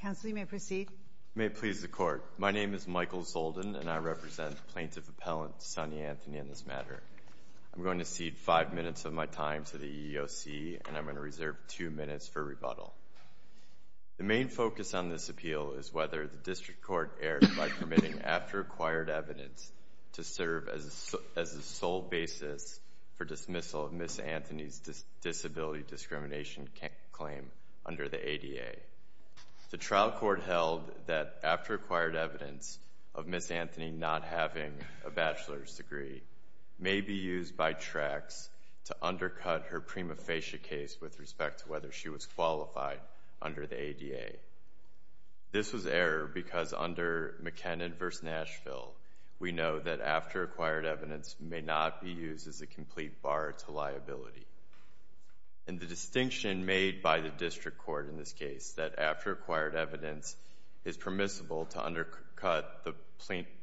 Counsel, you may proceed. May it please the Court. My name is Michael Zoldan, and I represent Plaintiff Appellant Sonny Anthony on this matter. I'm going to cede five minutes of my time to the EEOC, and I'm going to reserve two minutes for rebuttal. The main focus on this appeal is whether the District Court erred by permitting after acquired evidence to serve as the sole basis for dismissal of Ms. Anthony's disability discrimination claim under the ADA. The trial court held that after acquired evidence of Ms. Anthony not having a bachelor's degree may be used by Trax to undercut her prima facie case with respect to whether she was qualified under the ADA. This was error because under McKinnon v. Nashville, we know that after acquired evidence may not be used as a complete bar to liability. And the distinction made by the District Court in this case, that after acquired evidence is permissible to undercut the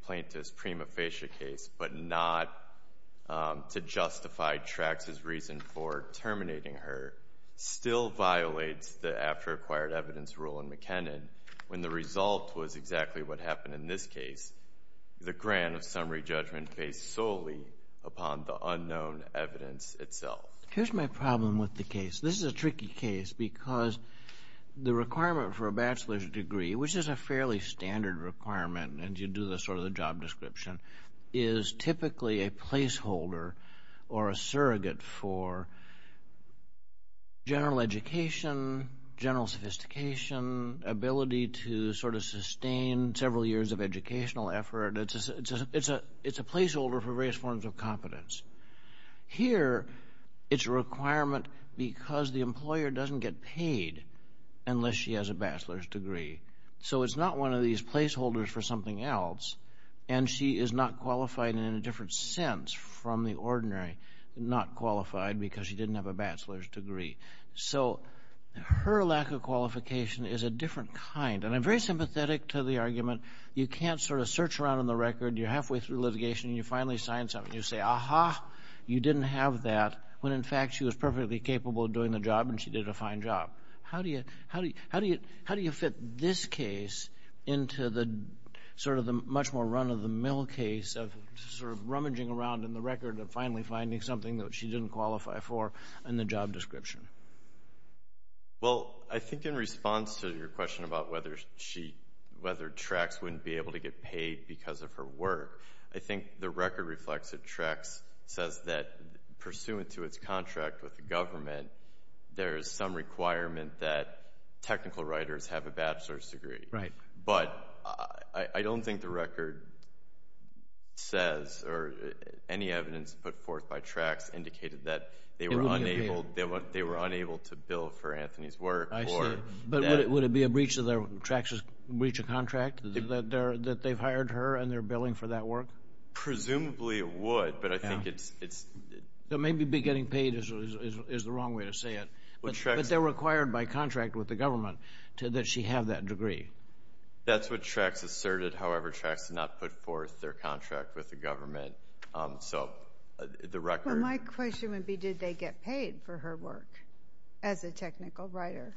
plaintiff's prima facie case but not to justify Trax's reason for terminating her, still violates the after acquired evidence rule in McKinnon when the result was exactly what happened in this case. The grant of summary judgment based solely upon the unknown evidence itself. Here's my problem with the case. This is a tricky case because the requirement for a bachelor's degree, which is a fairly standard requirement, and you do the sort of the job description, is typically a placeholder or a surrogate for general education, general sophistication, ability to sort of sustain several years of educational effort. It's a placeholder for various forms of competence. Here it's a requirement because the employer doesn't get paid unless she has a bachelor's degree. So it's not one of these placeholders for something else, and she is not qualified in a different sense from the ordinary, not qualified because she didn't have a bachelor's degree. So her lack of qualification is a different kind, and I'm very sympathetic to the argument you can't sort of search around in the record, you're halfway through litigation, you finally sign something, you say, aha, you didn't have that when in fact she was perfectly capable of doing the job and she did a fine job. How do you fit this case into the sort of the much more run-of-the-mill case of sort of rummaging around in the record and finally finding something that she didn't qualify for in the job description? Well, I think in response to your question about whether she, whether Trax wouldn't be able to get paid because of her work, I think the record reflects that Trax says that pursuant to its contract with the government, there is some requirement that technical writers have a bachelor's degree. Right. But I don't think the record says or any evidence put forth by Trax indicated that they were unable, they were unable to bill for Anthony's work or... I see. But would it be a breach of their, Trax's breach of contract that they've hired her and they're billing for that work? Presumably it would, but I think it's... It may be getting paid is the wrong way to say it, but they're required by contract with the government that she have that degree. That's what Trax asserted. However, Trax did not put forth their contract with the government. So the record... Well, my question would be, did they get paid for her work as a technical writer?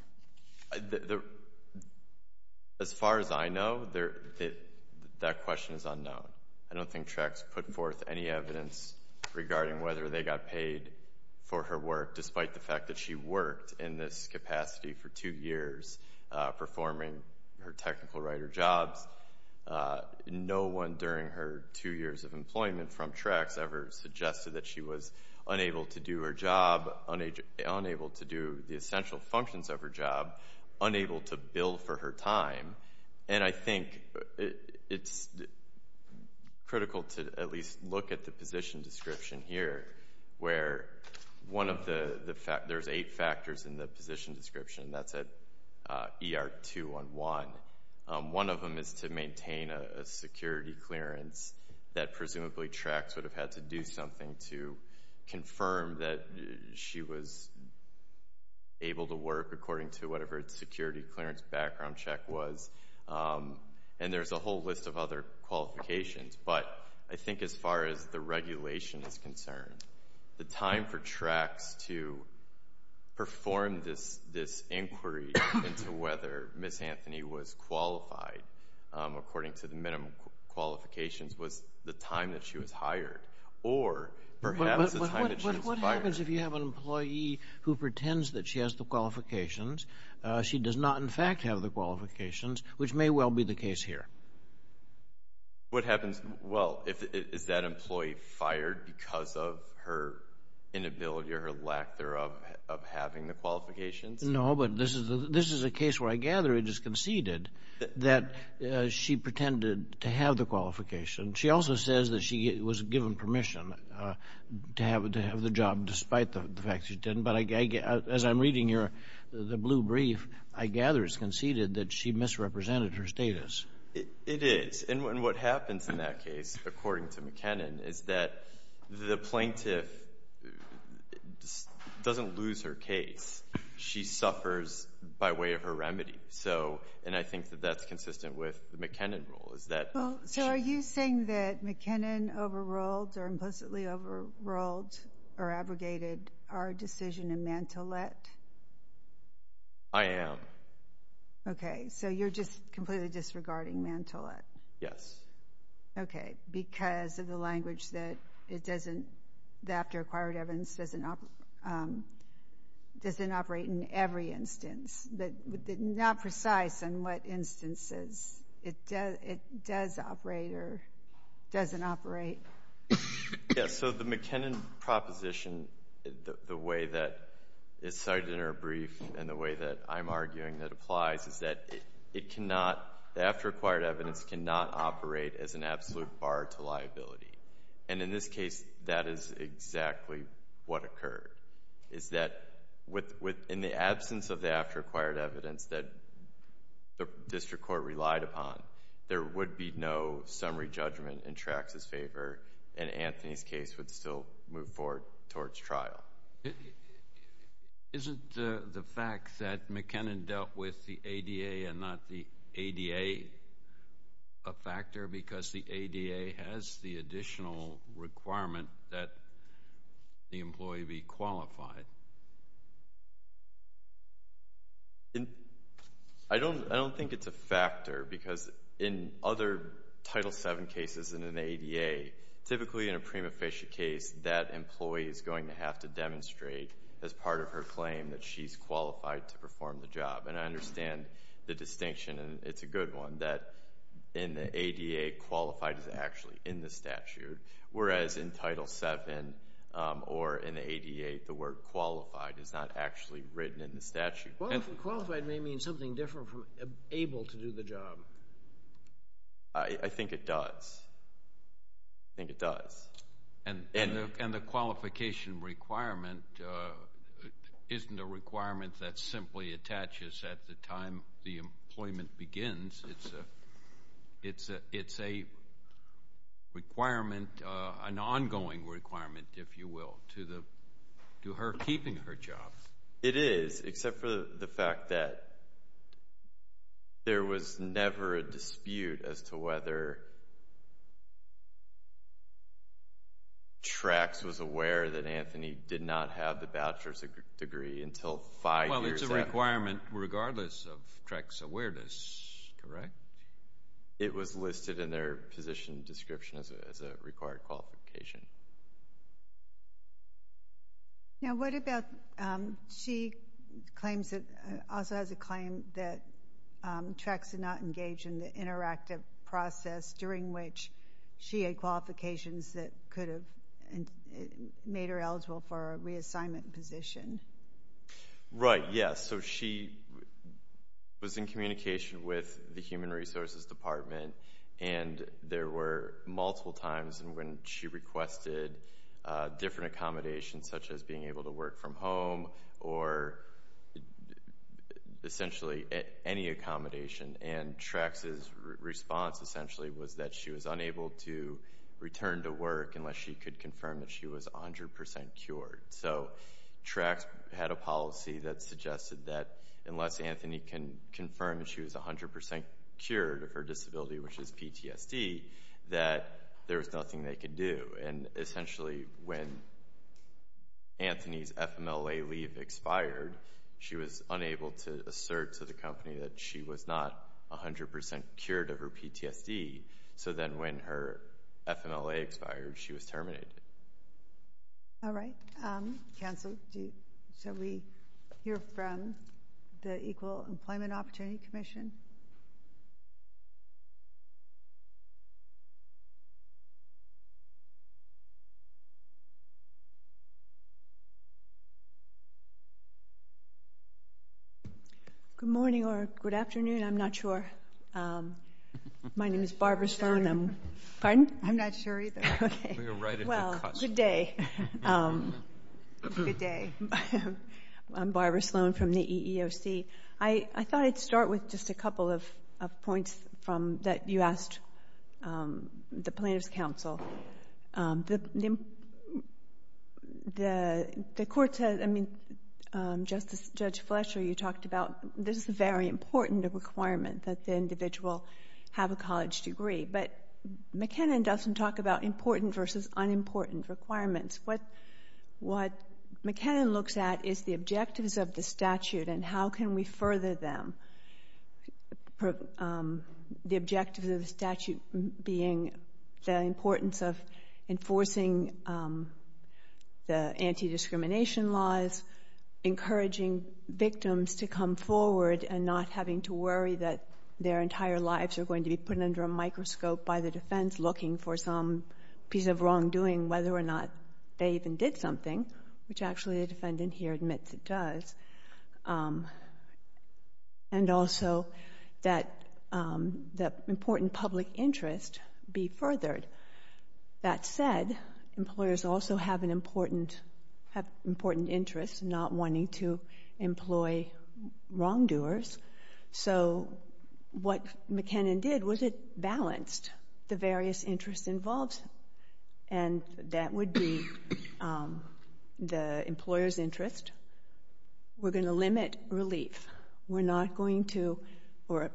As far as I know, that question is unknown. I don't think Trax put forth any evidence regarding whether they got paid for her work despite the fact that she worked in this capacity for two years performing her technical writer jobs. No one during her two years of employment from Trax ever suggested that she was unable to do her job, unable to do the essential functions of her job, unable to bill for her time. And I think it's critical to at least look at the position description here where one of the... There's eight factors in the position description, and that's at ER 211. One of them is to maintain a security clearance that presumably Trax would have had to do something to confirm that she was able to work according to whatever its security clearance background check was. And there's a whole list of other qualifications, but I think as far as the regulation is concerned, the time for Trax to perform this inquiry into whether Ms. Anthony was qualified according to the minimum qualifications was the time that she was hired or perhaps the time that she was fired. But what happens if you have an employee who pretends that she has the qualifications, she does not in fact have the qualifications, which may well be the case here? What happens, well, is that employee fired because of her inability or her lack thereof of having the qualifications? No, but this is a case where I gather it is conceded that she pretended to have the qualification. She also says that she was given permission to have the job despite the fact she didn't. But as I'm reading here the blue brief, I gather it's conceded that she misrepresented her status. It is. And what happens in that case, according to McKinnon, is that the plaintiff doesn't lose her case. She suffers by way of her remedy. And I think that that's consistent with the McKinnon rule, is that— Well, so are you saying that McKinnon overruled or implicitly overruled or abrogated our decision in Mantillet? I am. Okay, so you're just completely disregarding Mantillet? Yes. Okay, because of the language that it doesn't—the after-acquired evidence doesn't operate in every instance, but not precise on what instances it does operate or doesn't operate. Yes, so the McKinnon proposition, the way that it's cited in her brief and the way that I'm arguing that applies is that it cannot—the after-acquired evidence cannot operate as an absolute bar to liability. And in this case, that is exactly what occurred, is that in the absence of the after-acquired evidence that the district court relied upon, there would be no summary judgment in Trax's favor and Anthony's case would still move forward towards trial. Now, isn't the fact that McKinnon dealt with the ADA and not the ADA a factor because the ADA has the additional requirement that the employee be qualified? I don't think it's a factor because in other Title VII cases and in the ADA, typically in a prima facie case, that employee is going to have to demonstrate as part of her claim that she's qualified to perform the job. And I understand the distinction, and it's a good one, that in the ADA, qualified is actually in the statute, whereas in Title VII or in the ADA, the word qualified is not actually written in the statute. Qualified may mean something different from able to do the job. I think it does. I think it does. And the qualification requirement isn't a requirement that simply attaches at the time the employment begins. It's a requirement, an ongoing requirement, if you will, to her keeping her job. It is, except for the fact that there was never a dispute as to whether TREX was aware that Anthony did not have the bachelor's degree until five years after. Well, it's a requirement regardless of TREX awareness, correct? It was listed in their position description as a required qualification. Now, what about, she claims, also has a claim that TREX did not engage in the interactive process during which she had qualifications that could have made her eligible for a reassignment position. Right. Yes. So, she was in communication with the Human Resources Department, and there were multiple times when she requested different accommodations, such as being able to work from home, or essentially any accommodation. And TREX's response, essentially, was that she was unable to return to work unless she could confirm that she was 100% cured. So TREX had a policy that suggested that unless Anthony can confirm that she was 100% cured of her disability, which is PTSD, that there was nothing they could do. And essentially, when Anthony's FMLA leave expired, she was unable to assert to the company that she was not 100% cured of her PTSD. So then when her FMLA expired, she was terminated. All right. Counsel, shall we hear from the Equal Employment Opportunity Commission? Good morning or good afternoon. I'm not sure. My name is Barbara Sloan. I'm... Pardon? I'm not sure either. Okay. We were right at the cut line. Well, good day. Good day. I'm Barbara Sloan from the EEOC. I thought I'd start with just a couple of points that you asked the plaintiff's counsel. The court said, I mean, Judge Fletcher, you talked about this is a very important requirement that the individual have a college degree, but McKinnon doesn't talk about important versus unimportant requirements. What McKinnon looks at is the objectives of the statute and how can we further them. The objectives of the statute being the importance of enforcing the anti-discrimination laws, encouraging victims to come forward and not having to worry that their entire lives are going to be put under a microscope by the defense looking for some piece of wrongdoing whether or not they even did something, which actually the defendant here admits it does, and also that important public interest be furthered. That said, employers also have an important interest, not wanting to employ wrongdoers. So what McKinnon did was it balanced the various interests involved. And that would be the employer's interest. We're going to limit relief. We're not going to, or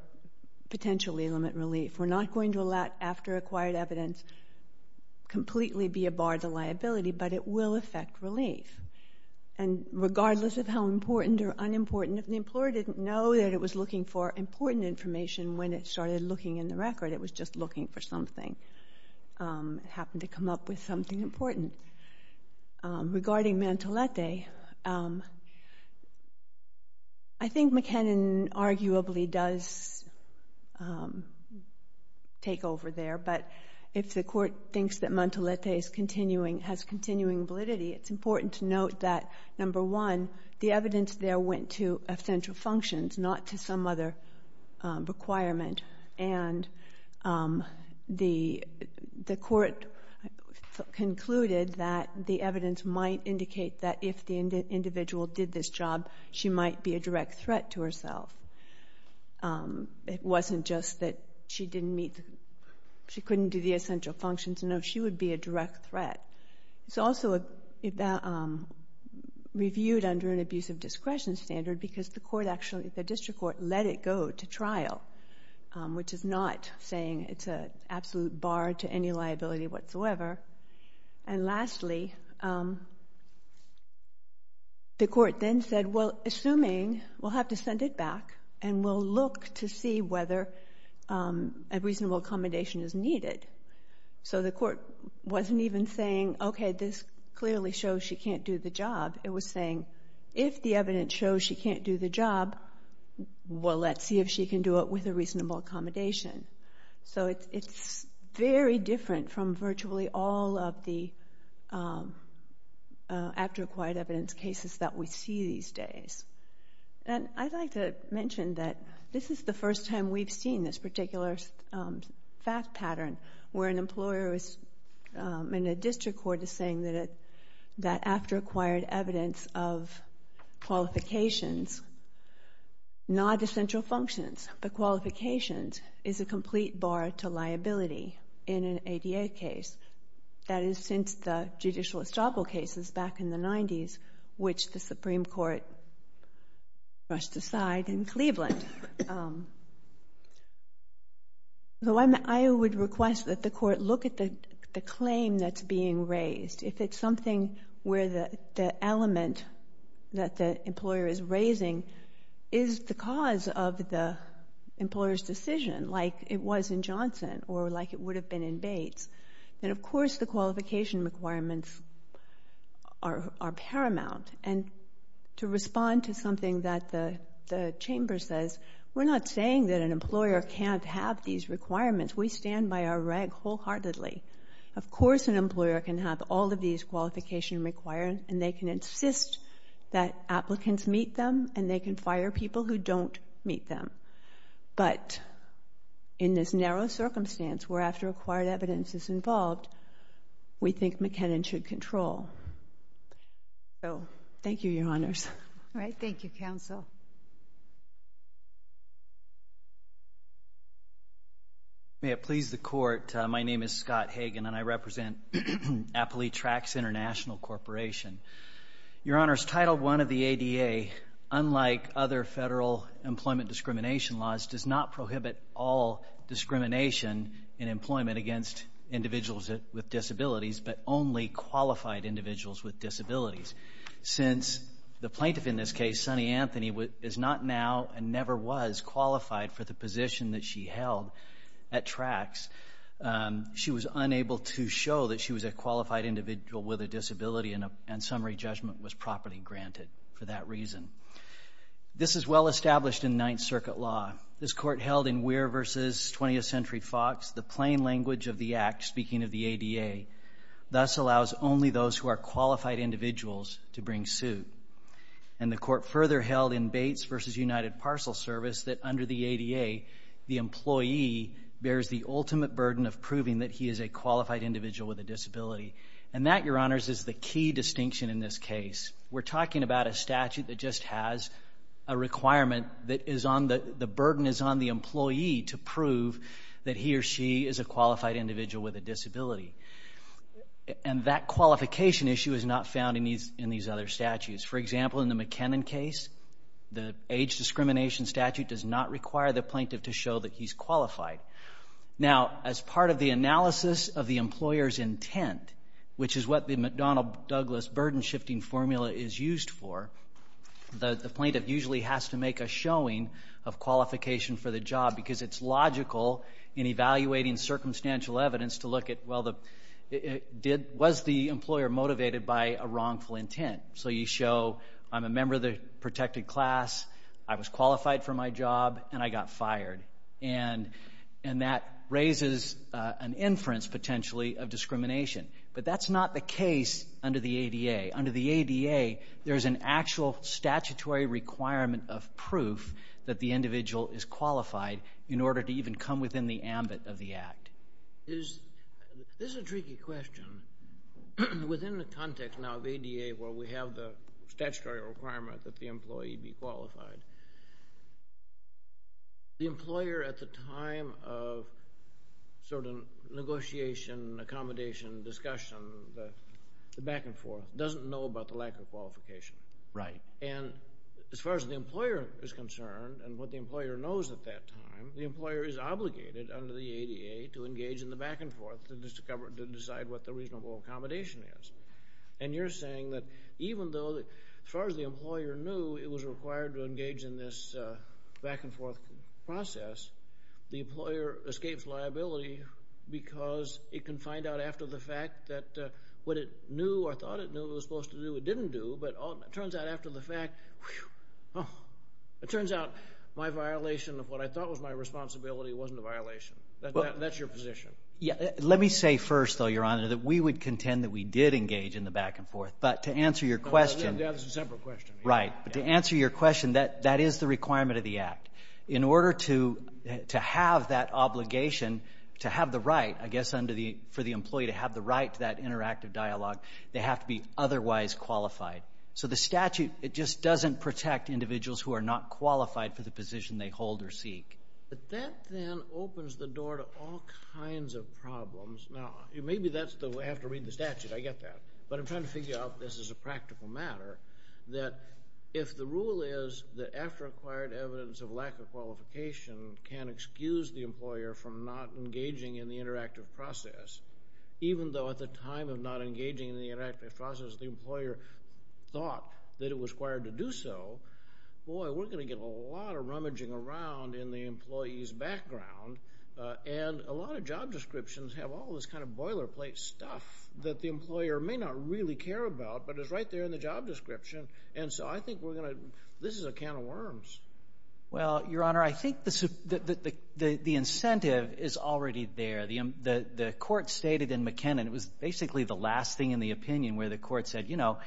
potentially limit relief. We're not going to, after acquired evidence, completely be a bar to liability, but it will affect relief. And regardless of how important or unimportant, if the employer didn't know that it was looking for important information when it started looking in the record, it was just looking for something, happened to come up with something important. Regarding Mantelletti, I think McKinnon arguably does take over there, but if the court thinks that Mantelletti is continuing, has continuing validity, it's important to note that, number one, the court concluded that the evidence might indicate that if the individual did this job, she might be a direct threat to herself. It wasn't just that she didn't meet, she couldn't do the essential functions, no, she would be a direct threat. It's also reviewed under an abuse of discretion standard because the court actually, the district court, let it go to trial, which is not saying it's an absolute bar to any liability whatsoever. And lastly, the court then said, well, assuming, we'll have to send it back and we'll look to see whether a reasonable accommodation is needed. So the court wasn't even saying, okay, this clearly shows she can't do the job. It was saying, if the evidence shows she can't do the job, well, let's see if she can do it with a reasonable accommodation. So it's very different from virtually all of the after-acquired evidence cases that we see these days. And I'd like to mention that this is the first time we've seen this particular fact pattern where an employer and a district court is saying that after-acquired evidence of qualifications, not essential functions, but qualifications, is a complete bar to liability in an ADA case. That is, since the judicial estoppel cases back in the 90s, which the Supreme Court brushed aside in Cleveland. So I would request that the court look at the claim that's being raised. If it's something where the element that the employer is raising is the cause of the employer's decision, like it was in Johnson or like it would have been in Bates, then of course the qualification requirements are paramount. And to respond to something that the Chamber says, we're not saying that an employer can't have these requirements. We stand by our reg wholeheartedly. Of course an employer can have all of these qualification requirements and they can insist that applicants meet them and they can fire people who don't meet them. But in this narrow circumstance where after-acquired evidence is involved, we think McKinnon should control. So, thank you, Your Honors. All right. Thank you, Counsel. May it please the Court, my name is Scott Hagan and I represent Appalachia Tracts International Corporation. Your Honors, Title I of the ADA, unlike other federal employment discrimination laws, does not prohibit all discrimination in employment against individuals with disabilities, but only qualified individuals with disabilities. Since the plaintiff in this case, Sunny Anthony, is not now and never was qualified for the position that she held at Tracts, she was unable to show that she was a qualified individual with a disability and summary judgment was properly granted for that reason. This is well established in Ninth Circuit law. This Court held in Weir v. 20th Century Fox, the plain language of the Act, speaking of the ADA, thus allows only those who are qualified individuals to bring suit. And the Court further held in Bates v. United Parcel Service that under the ADA, the employee bears the ultimate burden of proving that he is a qualified individual with a disability. And that, Your Honors, is the key distinction in this case. We're talking about a statute that just has a requirement that is on the, the burden is on the employee to prove that he or she is a qualified individual with a disability. And that qualification issue is not found in these, in these other statutes. For example, in the McKinnon case, the age discrimination statute does not require the plaintiff to show that he's qualified. Now, as part of the analysis of the employer's intent, which is what the McDonnell-Douglas burden shifting formula is used for, the plaintiff usually has to make a showing of qualification for the job, because it's logical in evaluating circumstantial evidence to look at, well, the, it, it did, was the employer motivated by a wrongful intent? So you show, I'm a member of the protected class, I was qualified for my job, and I got fired. And that raises an inference, potentially, of discrimination. But that's not the case under the ADA. Under the ADA, there's an actual statutory requirement of proof that the individual is qualified in order to even come within the ambit of the act. Is, this is a tricky question. Within the context, now, of ADA, where we have the statutory requirement that the employee be qualified, the employer, at the time of certain negotiation, accommodation, discussion, the, the back and forth, doesn't know about the lack of qualification. Right. And, as far as the employer is concerned, and what the employer knows at that time, the employer is obligated, under the ADA, to engage in the back and forth, to discover, to decide what the reasonable accommodation is. And you're saying that, even though, as far as the employer knew, it was required to engage in this back and forth process, the employer escapes liability because it can find out after the fact that what it knew, or thought it knew it was supposed to do, it didn't do, but it turns out after the fact, whew, oh, it turns out my violation of what I thought was my responsibility wasn't a violation. That's your position. Yeah. Let me say first, though, Your Honor, that we would contend that we did engage in the back and forth. But to answer your question. That's a separate question. Right. But to answer your question, that, that is the requirement of the act. In order to, to have that obligation, to have the right, I guess, under the, for the employee to have the right to that interactive dialogue, they have to be otherwise qualified. So the statute, it just doesn't protect individuals who are not qualified for the position they hold or seek. But that, then, opens the door to all kinds of problems. Now, maybe that's the way, I have to read the statute, I get that. But I'm trying to figure out if this is a practical matter, that if the rule is that after acquired evidence of lack of qualification can excuse the employer from not engaging in the interactive process, even though at the time of not engaging in the interactive process, the employer thought that it was required to do so, boy, we're going to get a lot of rummaging around in the employee's background. And a lot of job descriptions have all this kind of boilerplate stuff that the employer may not really care about, but is right there in the job description. And so I think we're going to, this is a can of worms. Well, Your Honor, I think the incentive is already there. The court stated in McKinnon, it was basically the last thing in the opinion where the court said, you know,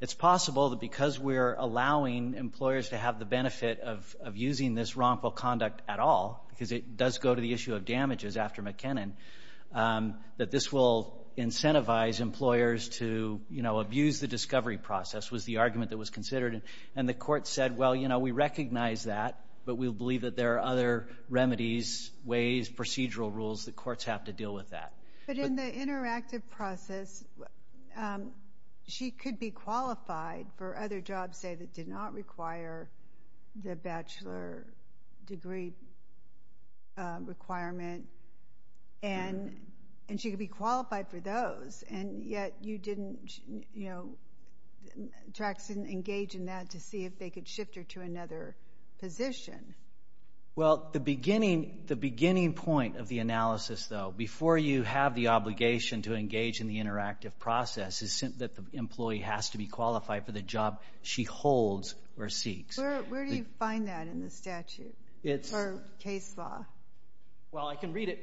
it's possible that because we're allowing employers to have the benefit of using this wrongful conduct at all, because it does go to the issue of damages after McKinnon, that this will incentivize employers to, you know, abuse the discovery process was the argument that was considered. And the court said, well, you know, we recognize that, but we believe that there are other remedies, ways, procedural rules that courts have to deal with that. But in the interactive process, she could be qualified for other jobs, say, that did not require the bachelor degree requirement, and she could be qualified for those, and yet you didn't, you know, Jackson, engage in that to see if they could shift her to another position. Well, the beginning point of the analysis, though, before you have the obligation to engage in the interactive process, is that the employee has to be qualified for the job she holds or seeks. Where do you find that in the statute or case law? Well, I can read it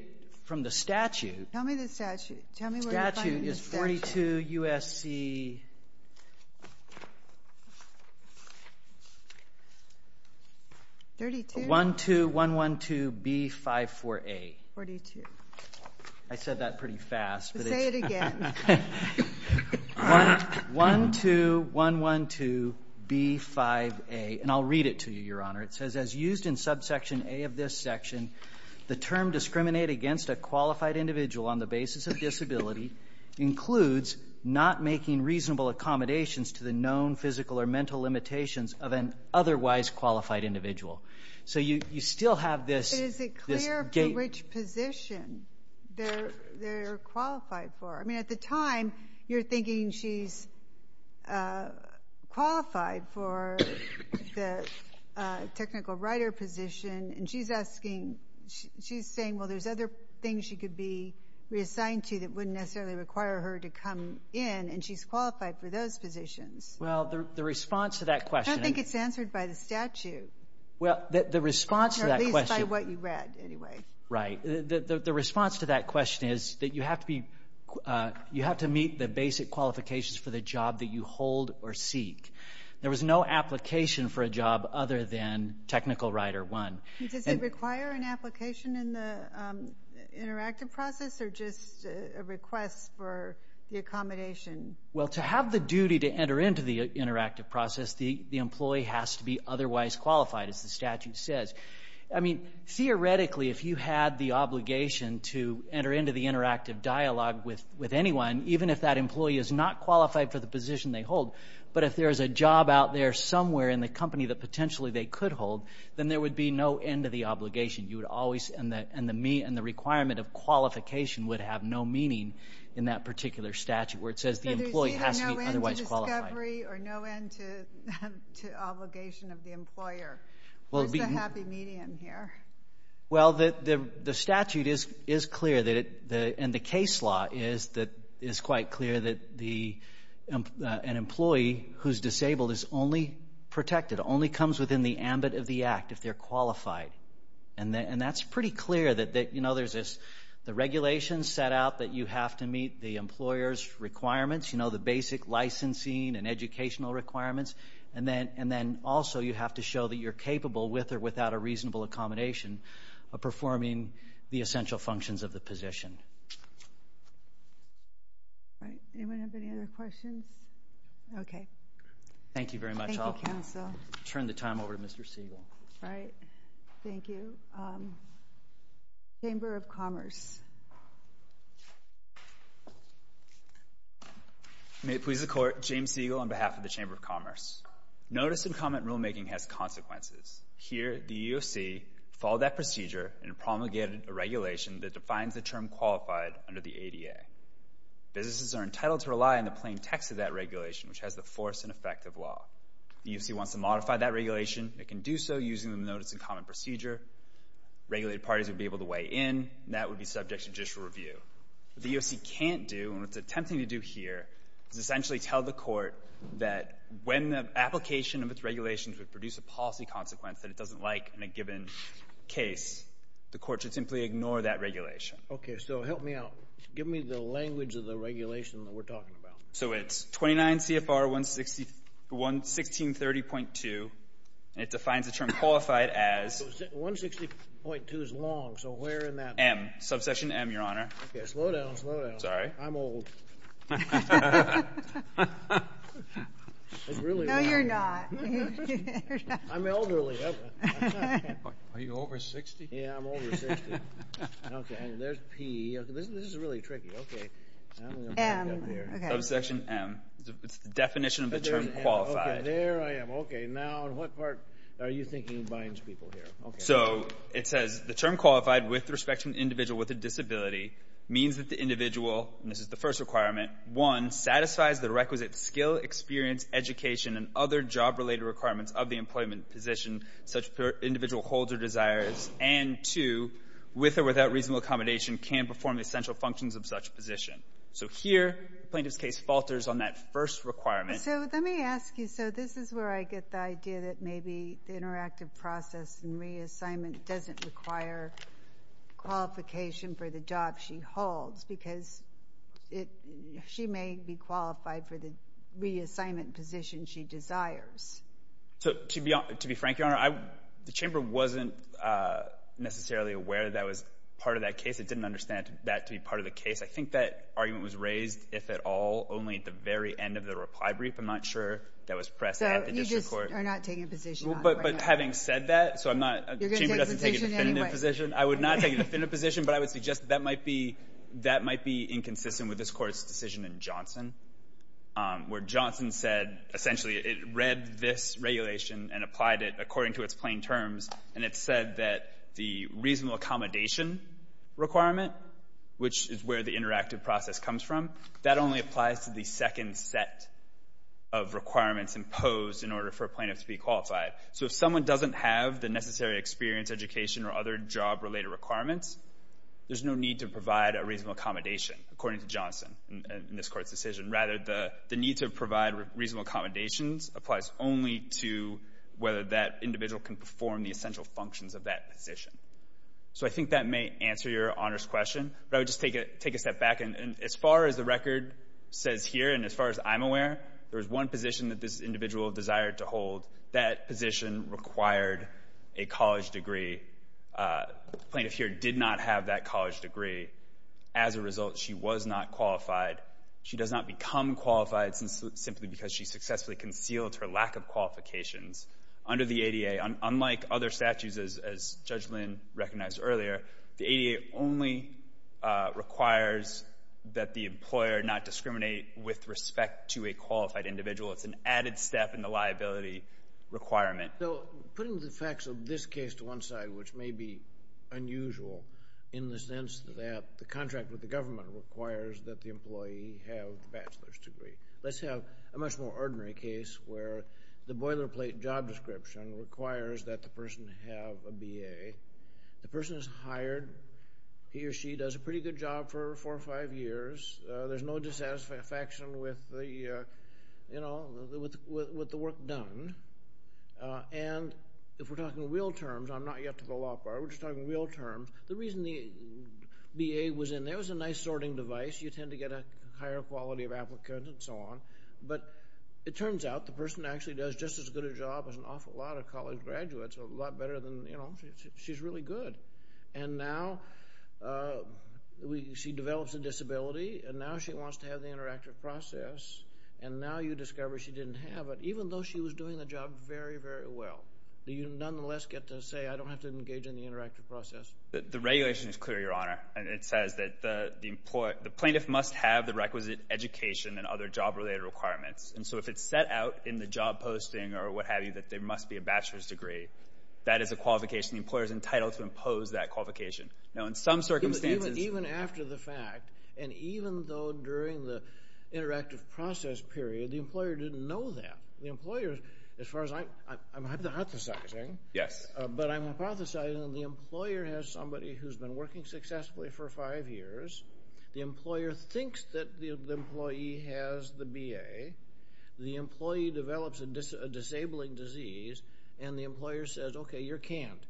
from the statute. Tell me the statute. Statute is 42 U.S.C. 12112B54A. 42. I said that pretty fast. Say it again. 12112B5A. And I'll read it to you, Your Honor. It says, as used in subsection A of this section, the term discriminate against a qualified individual on the basis of disability includes not making reasonable accommodations to the known physical or mental limitations of an otherwise qualified individual. So you still have this. Is it clear for which position they're qualified for? I mean, at the time, you're thinking she's qualified for the technical writer position. And she's asking, she's saying, well, there's other things she could be reassigned to that wouldn't necessarily require her to come in. And she's qualified for those positions. Well, the response to that question. I don't think it's answered by the statute. Well, the response to that question. Or at least by what you read, anyway. Right. The response to that question is that you have to be, you have to meet the basic qualifications for the job that you hold or seek. There was no application for a job other than technical writer one. Does it require an application in the interactive process or just a request for the accommodation? Well, to have the duty to enter into the interactive process, the employee has to be otherwise qualified, as the statute says. I mean, theoretically, if you had the obligation to enter into the interactive dialogue with anyone, even if that employee is not qualified for the position they hold, but if there's a job out there somewhere in the company that potentially they could hold, then there would be no end to the obligation. You would always, and the requirement of qualification would have no meaning in that particular statute where it says the employee has to be otherwise qualified. So there's either no end to discovery or no end to obligation of the employer. What's the happy medium here? Well, the statute is clear, and the case law is quite clear that an employee who's disabled is only protected, only comes within the ambit of the act if they're qualified. And that's pretty clear that, you know, there's this, the regulations set out that you have to meet the employer's requirements, you know, the basic licensing and educational requirements. And then, also, you have to show that you're capable, with or without a reasonable accommodation, of performing the essential functions of the position. All right. Anyone have any other questions? Okay. Thank you very much. Thank you, counsel. I'll turn the time over to Mr. Siegel. All right. Thank you. Chamber of Commerce. May it please the Court, James Siegel on behalf of the Chamber of Commerce. Notice and comment rulemaking has consequences. Here, the EEOC followed that procedure and promulgated a regulation that defines the term qualified under the ADA. Businesses are entitled to rely on the plain text of that regulation, which has the force and effect of law. If the EEOC wants to modify that regulation, it can do so using the notice and comment procedure. Regulated parties would be able to weigh in, and that would be subject to judicial review. What the EEOC can't do, and what it's attempting to do here, is essentially tell the Court that when the application of its regulations would produce a policy consequence that it doesn't like in a given case, the Court should simply ignore that regulation. Okay. So help me out. Give me the language of the regulation that we're talking about. So it's 29 CFR 1630.2, and it defines the term qualified as 160.2 is long, so where in that M. Subsection M, Your Honor. Okay. Slow down. Slow down. Sorry. I'm old. No, you're not. I'm elderly. Are you over 60? Yeah, I'm over 60. Okay. And there's P. This is really tricky. Okay. M. Okay. Subsection M. It's the definition of the term qualified. Okay. There I am. Okay. Now, in what part are you thinking binds people here? Okay. So it says, the term qualified with respect to an individual with a disability means that the individual, and this is the first requirement, one, satisfies the requisite skill, experience, education, and other job-related requirements of the employment position such that the individual holds or desires, and two, with or without reasonable accommodation, can perform the essential functions of such a position. So here, the plaintiff's case falters on that first requirement. So let me ask you, so this is where I get the idea that maybe the interactive process and reassignment doesn't require qualification for the job she holds because she may be qualified for the reassignment position she desires. So to be frank, Your Honor, the chamber wasn't necessarily aware that was part of that case. It didn't understand that to be part of the case. I think that argument was raised, if at all, only at the very end of the reply brief. I'm not sure that was pressed at the district court. So you just are not taking a position on that. But having said that, so I'm not, the chamber doesn't take a definitive position. I would not take a definitive position, but I would suggest that might be inconsistent with this Court's decision in Johnson, where Johnson said, essentially, it read this regulation and applied it according to its plain terms, and it said that the reasonable accommodation requirement, which is where the interactive process comes from, that only applies to the second set of requirements imposed in order for a plaintiff to be qualified. So if someone doesn't have the necessary experience, education, or other job-related requirements, there's no need to provide a reasonable accommodation, according to Johnson in this Court's decision. Rather, the need to provide reasonable accommodations applies only to whether that individual can perform the essential functions of that position. So I think that may answer Your Honor's question, but I would just take a step back. And as far as the record says here, and as far as I'm aware, there's one position that this individual desired to hold. That position required a college degree. The plaintiff here did not have that college degree. As a result, she was not qualified. She does not become qualified simply because she successfully concealed her lack of qualifications under the ADA. Unlike other statutes, as Judge Lynn recognized earlier, the ADA only requires that the employer not discriminate with respect to a qualified individual. It's an added step in the liability requirement. So putting the facts of this case to one side, which may be unusual in the sense that the contract with the government requires that the employee have a bachelor's degree. Let's have a much more ordinary case where the boilerplate job description requires that the person have a BA. The person is hired. He or she does a pretty good job for four or five years. There's no dissatisfaction with the work done. And if we're talking real terms, I'm not yet to the law bar. We're just talking real terms. The reason the BA was in there was a nice sorting device. You tend to get a higher quality of applicant and so on. But it turns out the person actually does just as good a job as an awful lot of college graduates. A lot better than, you know, she's really good. And now she develops a disability. And now she wants to have the interactive process. And now you discover she didn't have it, even though she was doing the job very, very well. You nonetheless get to say, I don't have to engage in the interactive process. The regulation is clear, Your Honor. It says that the plaintiff must have the requisite education and other job-related requirements. And so if it's set out in the job posting or what have you that there must be a bachelor's degree, that is a qualification the employer is entitled to impose that qualification. Now, in some circumstances. Even after the fact, and even though during the interactive process period, the employer didn't know that. The employer, as far as I'm hypothesizing. Yes. But I'm hypothesizing the employer has somebody who's been working successfully for five years. The employer thinks that the employee has the BA. The employee develops a disabling disease. And the employer says, okay, you're canned.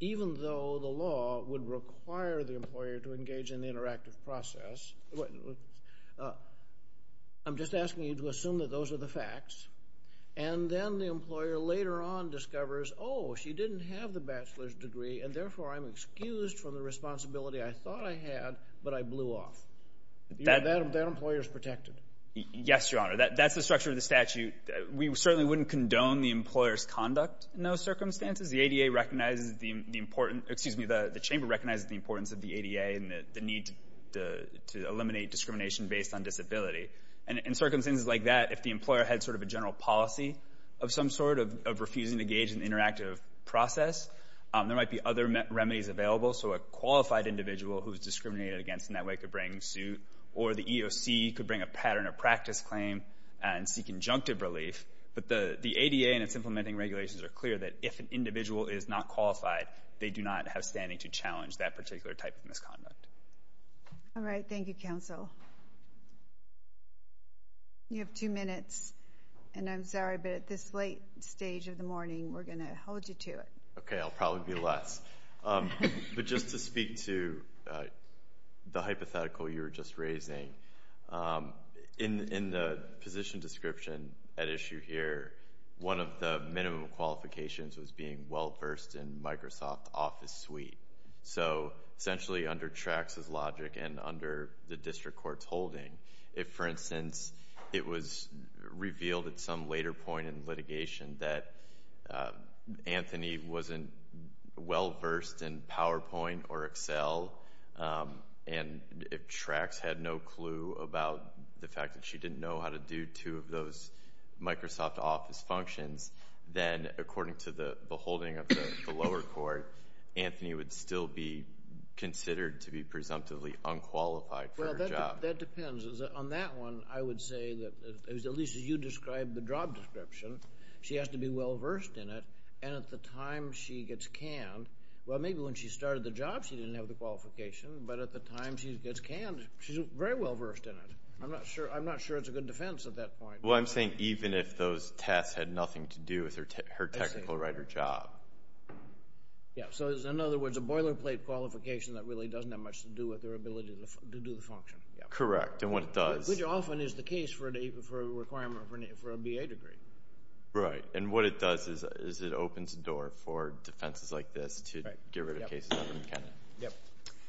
Even though the law would require the employer to engage in the interactive process, I'm just asking you to assume that those are the facts. And then the employer later on discovers, oh, she didn't have the bachelor's degree, and therefore I'm excused from the responsibility I thought I had, but I blew off. That employer is protected. Yes, Your Honor. That's the structure of the statute. We certainly wouldn't condone the employer's conduct in those circumstances. The ADA recognizes the importance, excuse me, the chamber recognizes the importance of the ADA and the need to eliminate discrimination based on disability. And in circumstances like that, if the employer had sort of a general policy of some sort of refusing to engage in the interactive process, there might be other remedies available. So a qualified individual who's discriminated against in that way could bring suit. Or the EOC could bring a pattern of practice claim and seek injunctive relief. But the ADA and its implementing regulations are clear that if an individual is not qualified, they do not have standing to challenge that particular type of misconduct. All right. Thank you, counsel. You have two minutes. And I'm sorry, but at this late stage of the morning, we're going to hold you to it. Okay. I'll probably be less. But just to speak to the hypothetical you were just raising, in the position of description at issue here, one of the minimum qualifications was being well-versed in Microsoft Office Suite. So essentially under Trax's logic and under the district court's holding. If, for instance, it was revealed at some later point in litigation that Anthony wasn't well-versed in PowerPoint or Excel, and if Trax had no clue about the fact that she didn't know how to do two of those Microsoft Office functions, then according to the holding of the lower court, Anthony would still be considered to be presumptively unqualified for her job. Well, that depends. On that one, I would say that at least as you described the job description, she has to be well-versed in it. And at the time she gets canned, well, maybe when she started the job, she didn't have the qualification. But at the time she gets canned, she's very well-versed in it. I'm not sure it's a good defense at that point. Well, I'm saying even if those tests had nothing to do with her technical writer job. Yeah. So in other words, a boilerplate qualification that really doesn't have much to do with her ability to do the function. Correct. And what it does... Which often is the case for a requirement for a BA degree. Right. And what it does is it opens the door for defenses like this to get rid of cases like McKenna. Yep.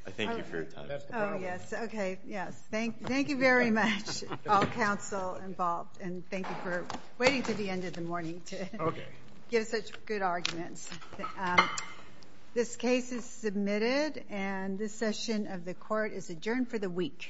I thank you for your time. Oh, yes. Okay. Yes. Thank you very much, all counsel involved. And thank you for waiting to the end of the morning to give such good arguments. This case is submitted. And this session of the court is adjourned for the week. All rise.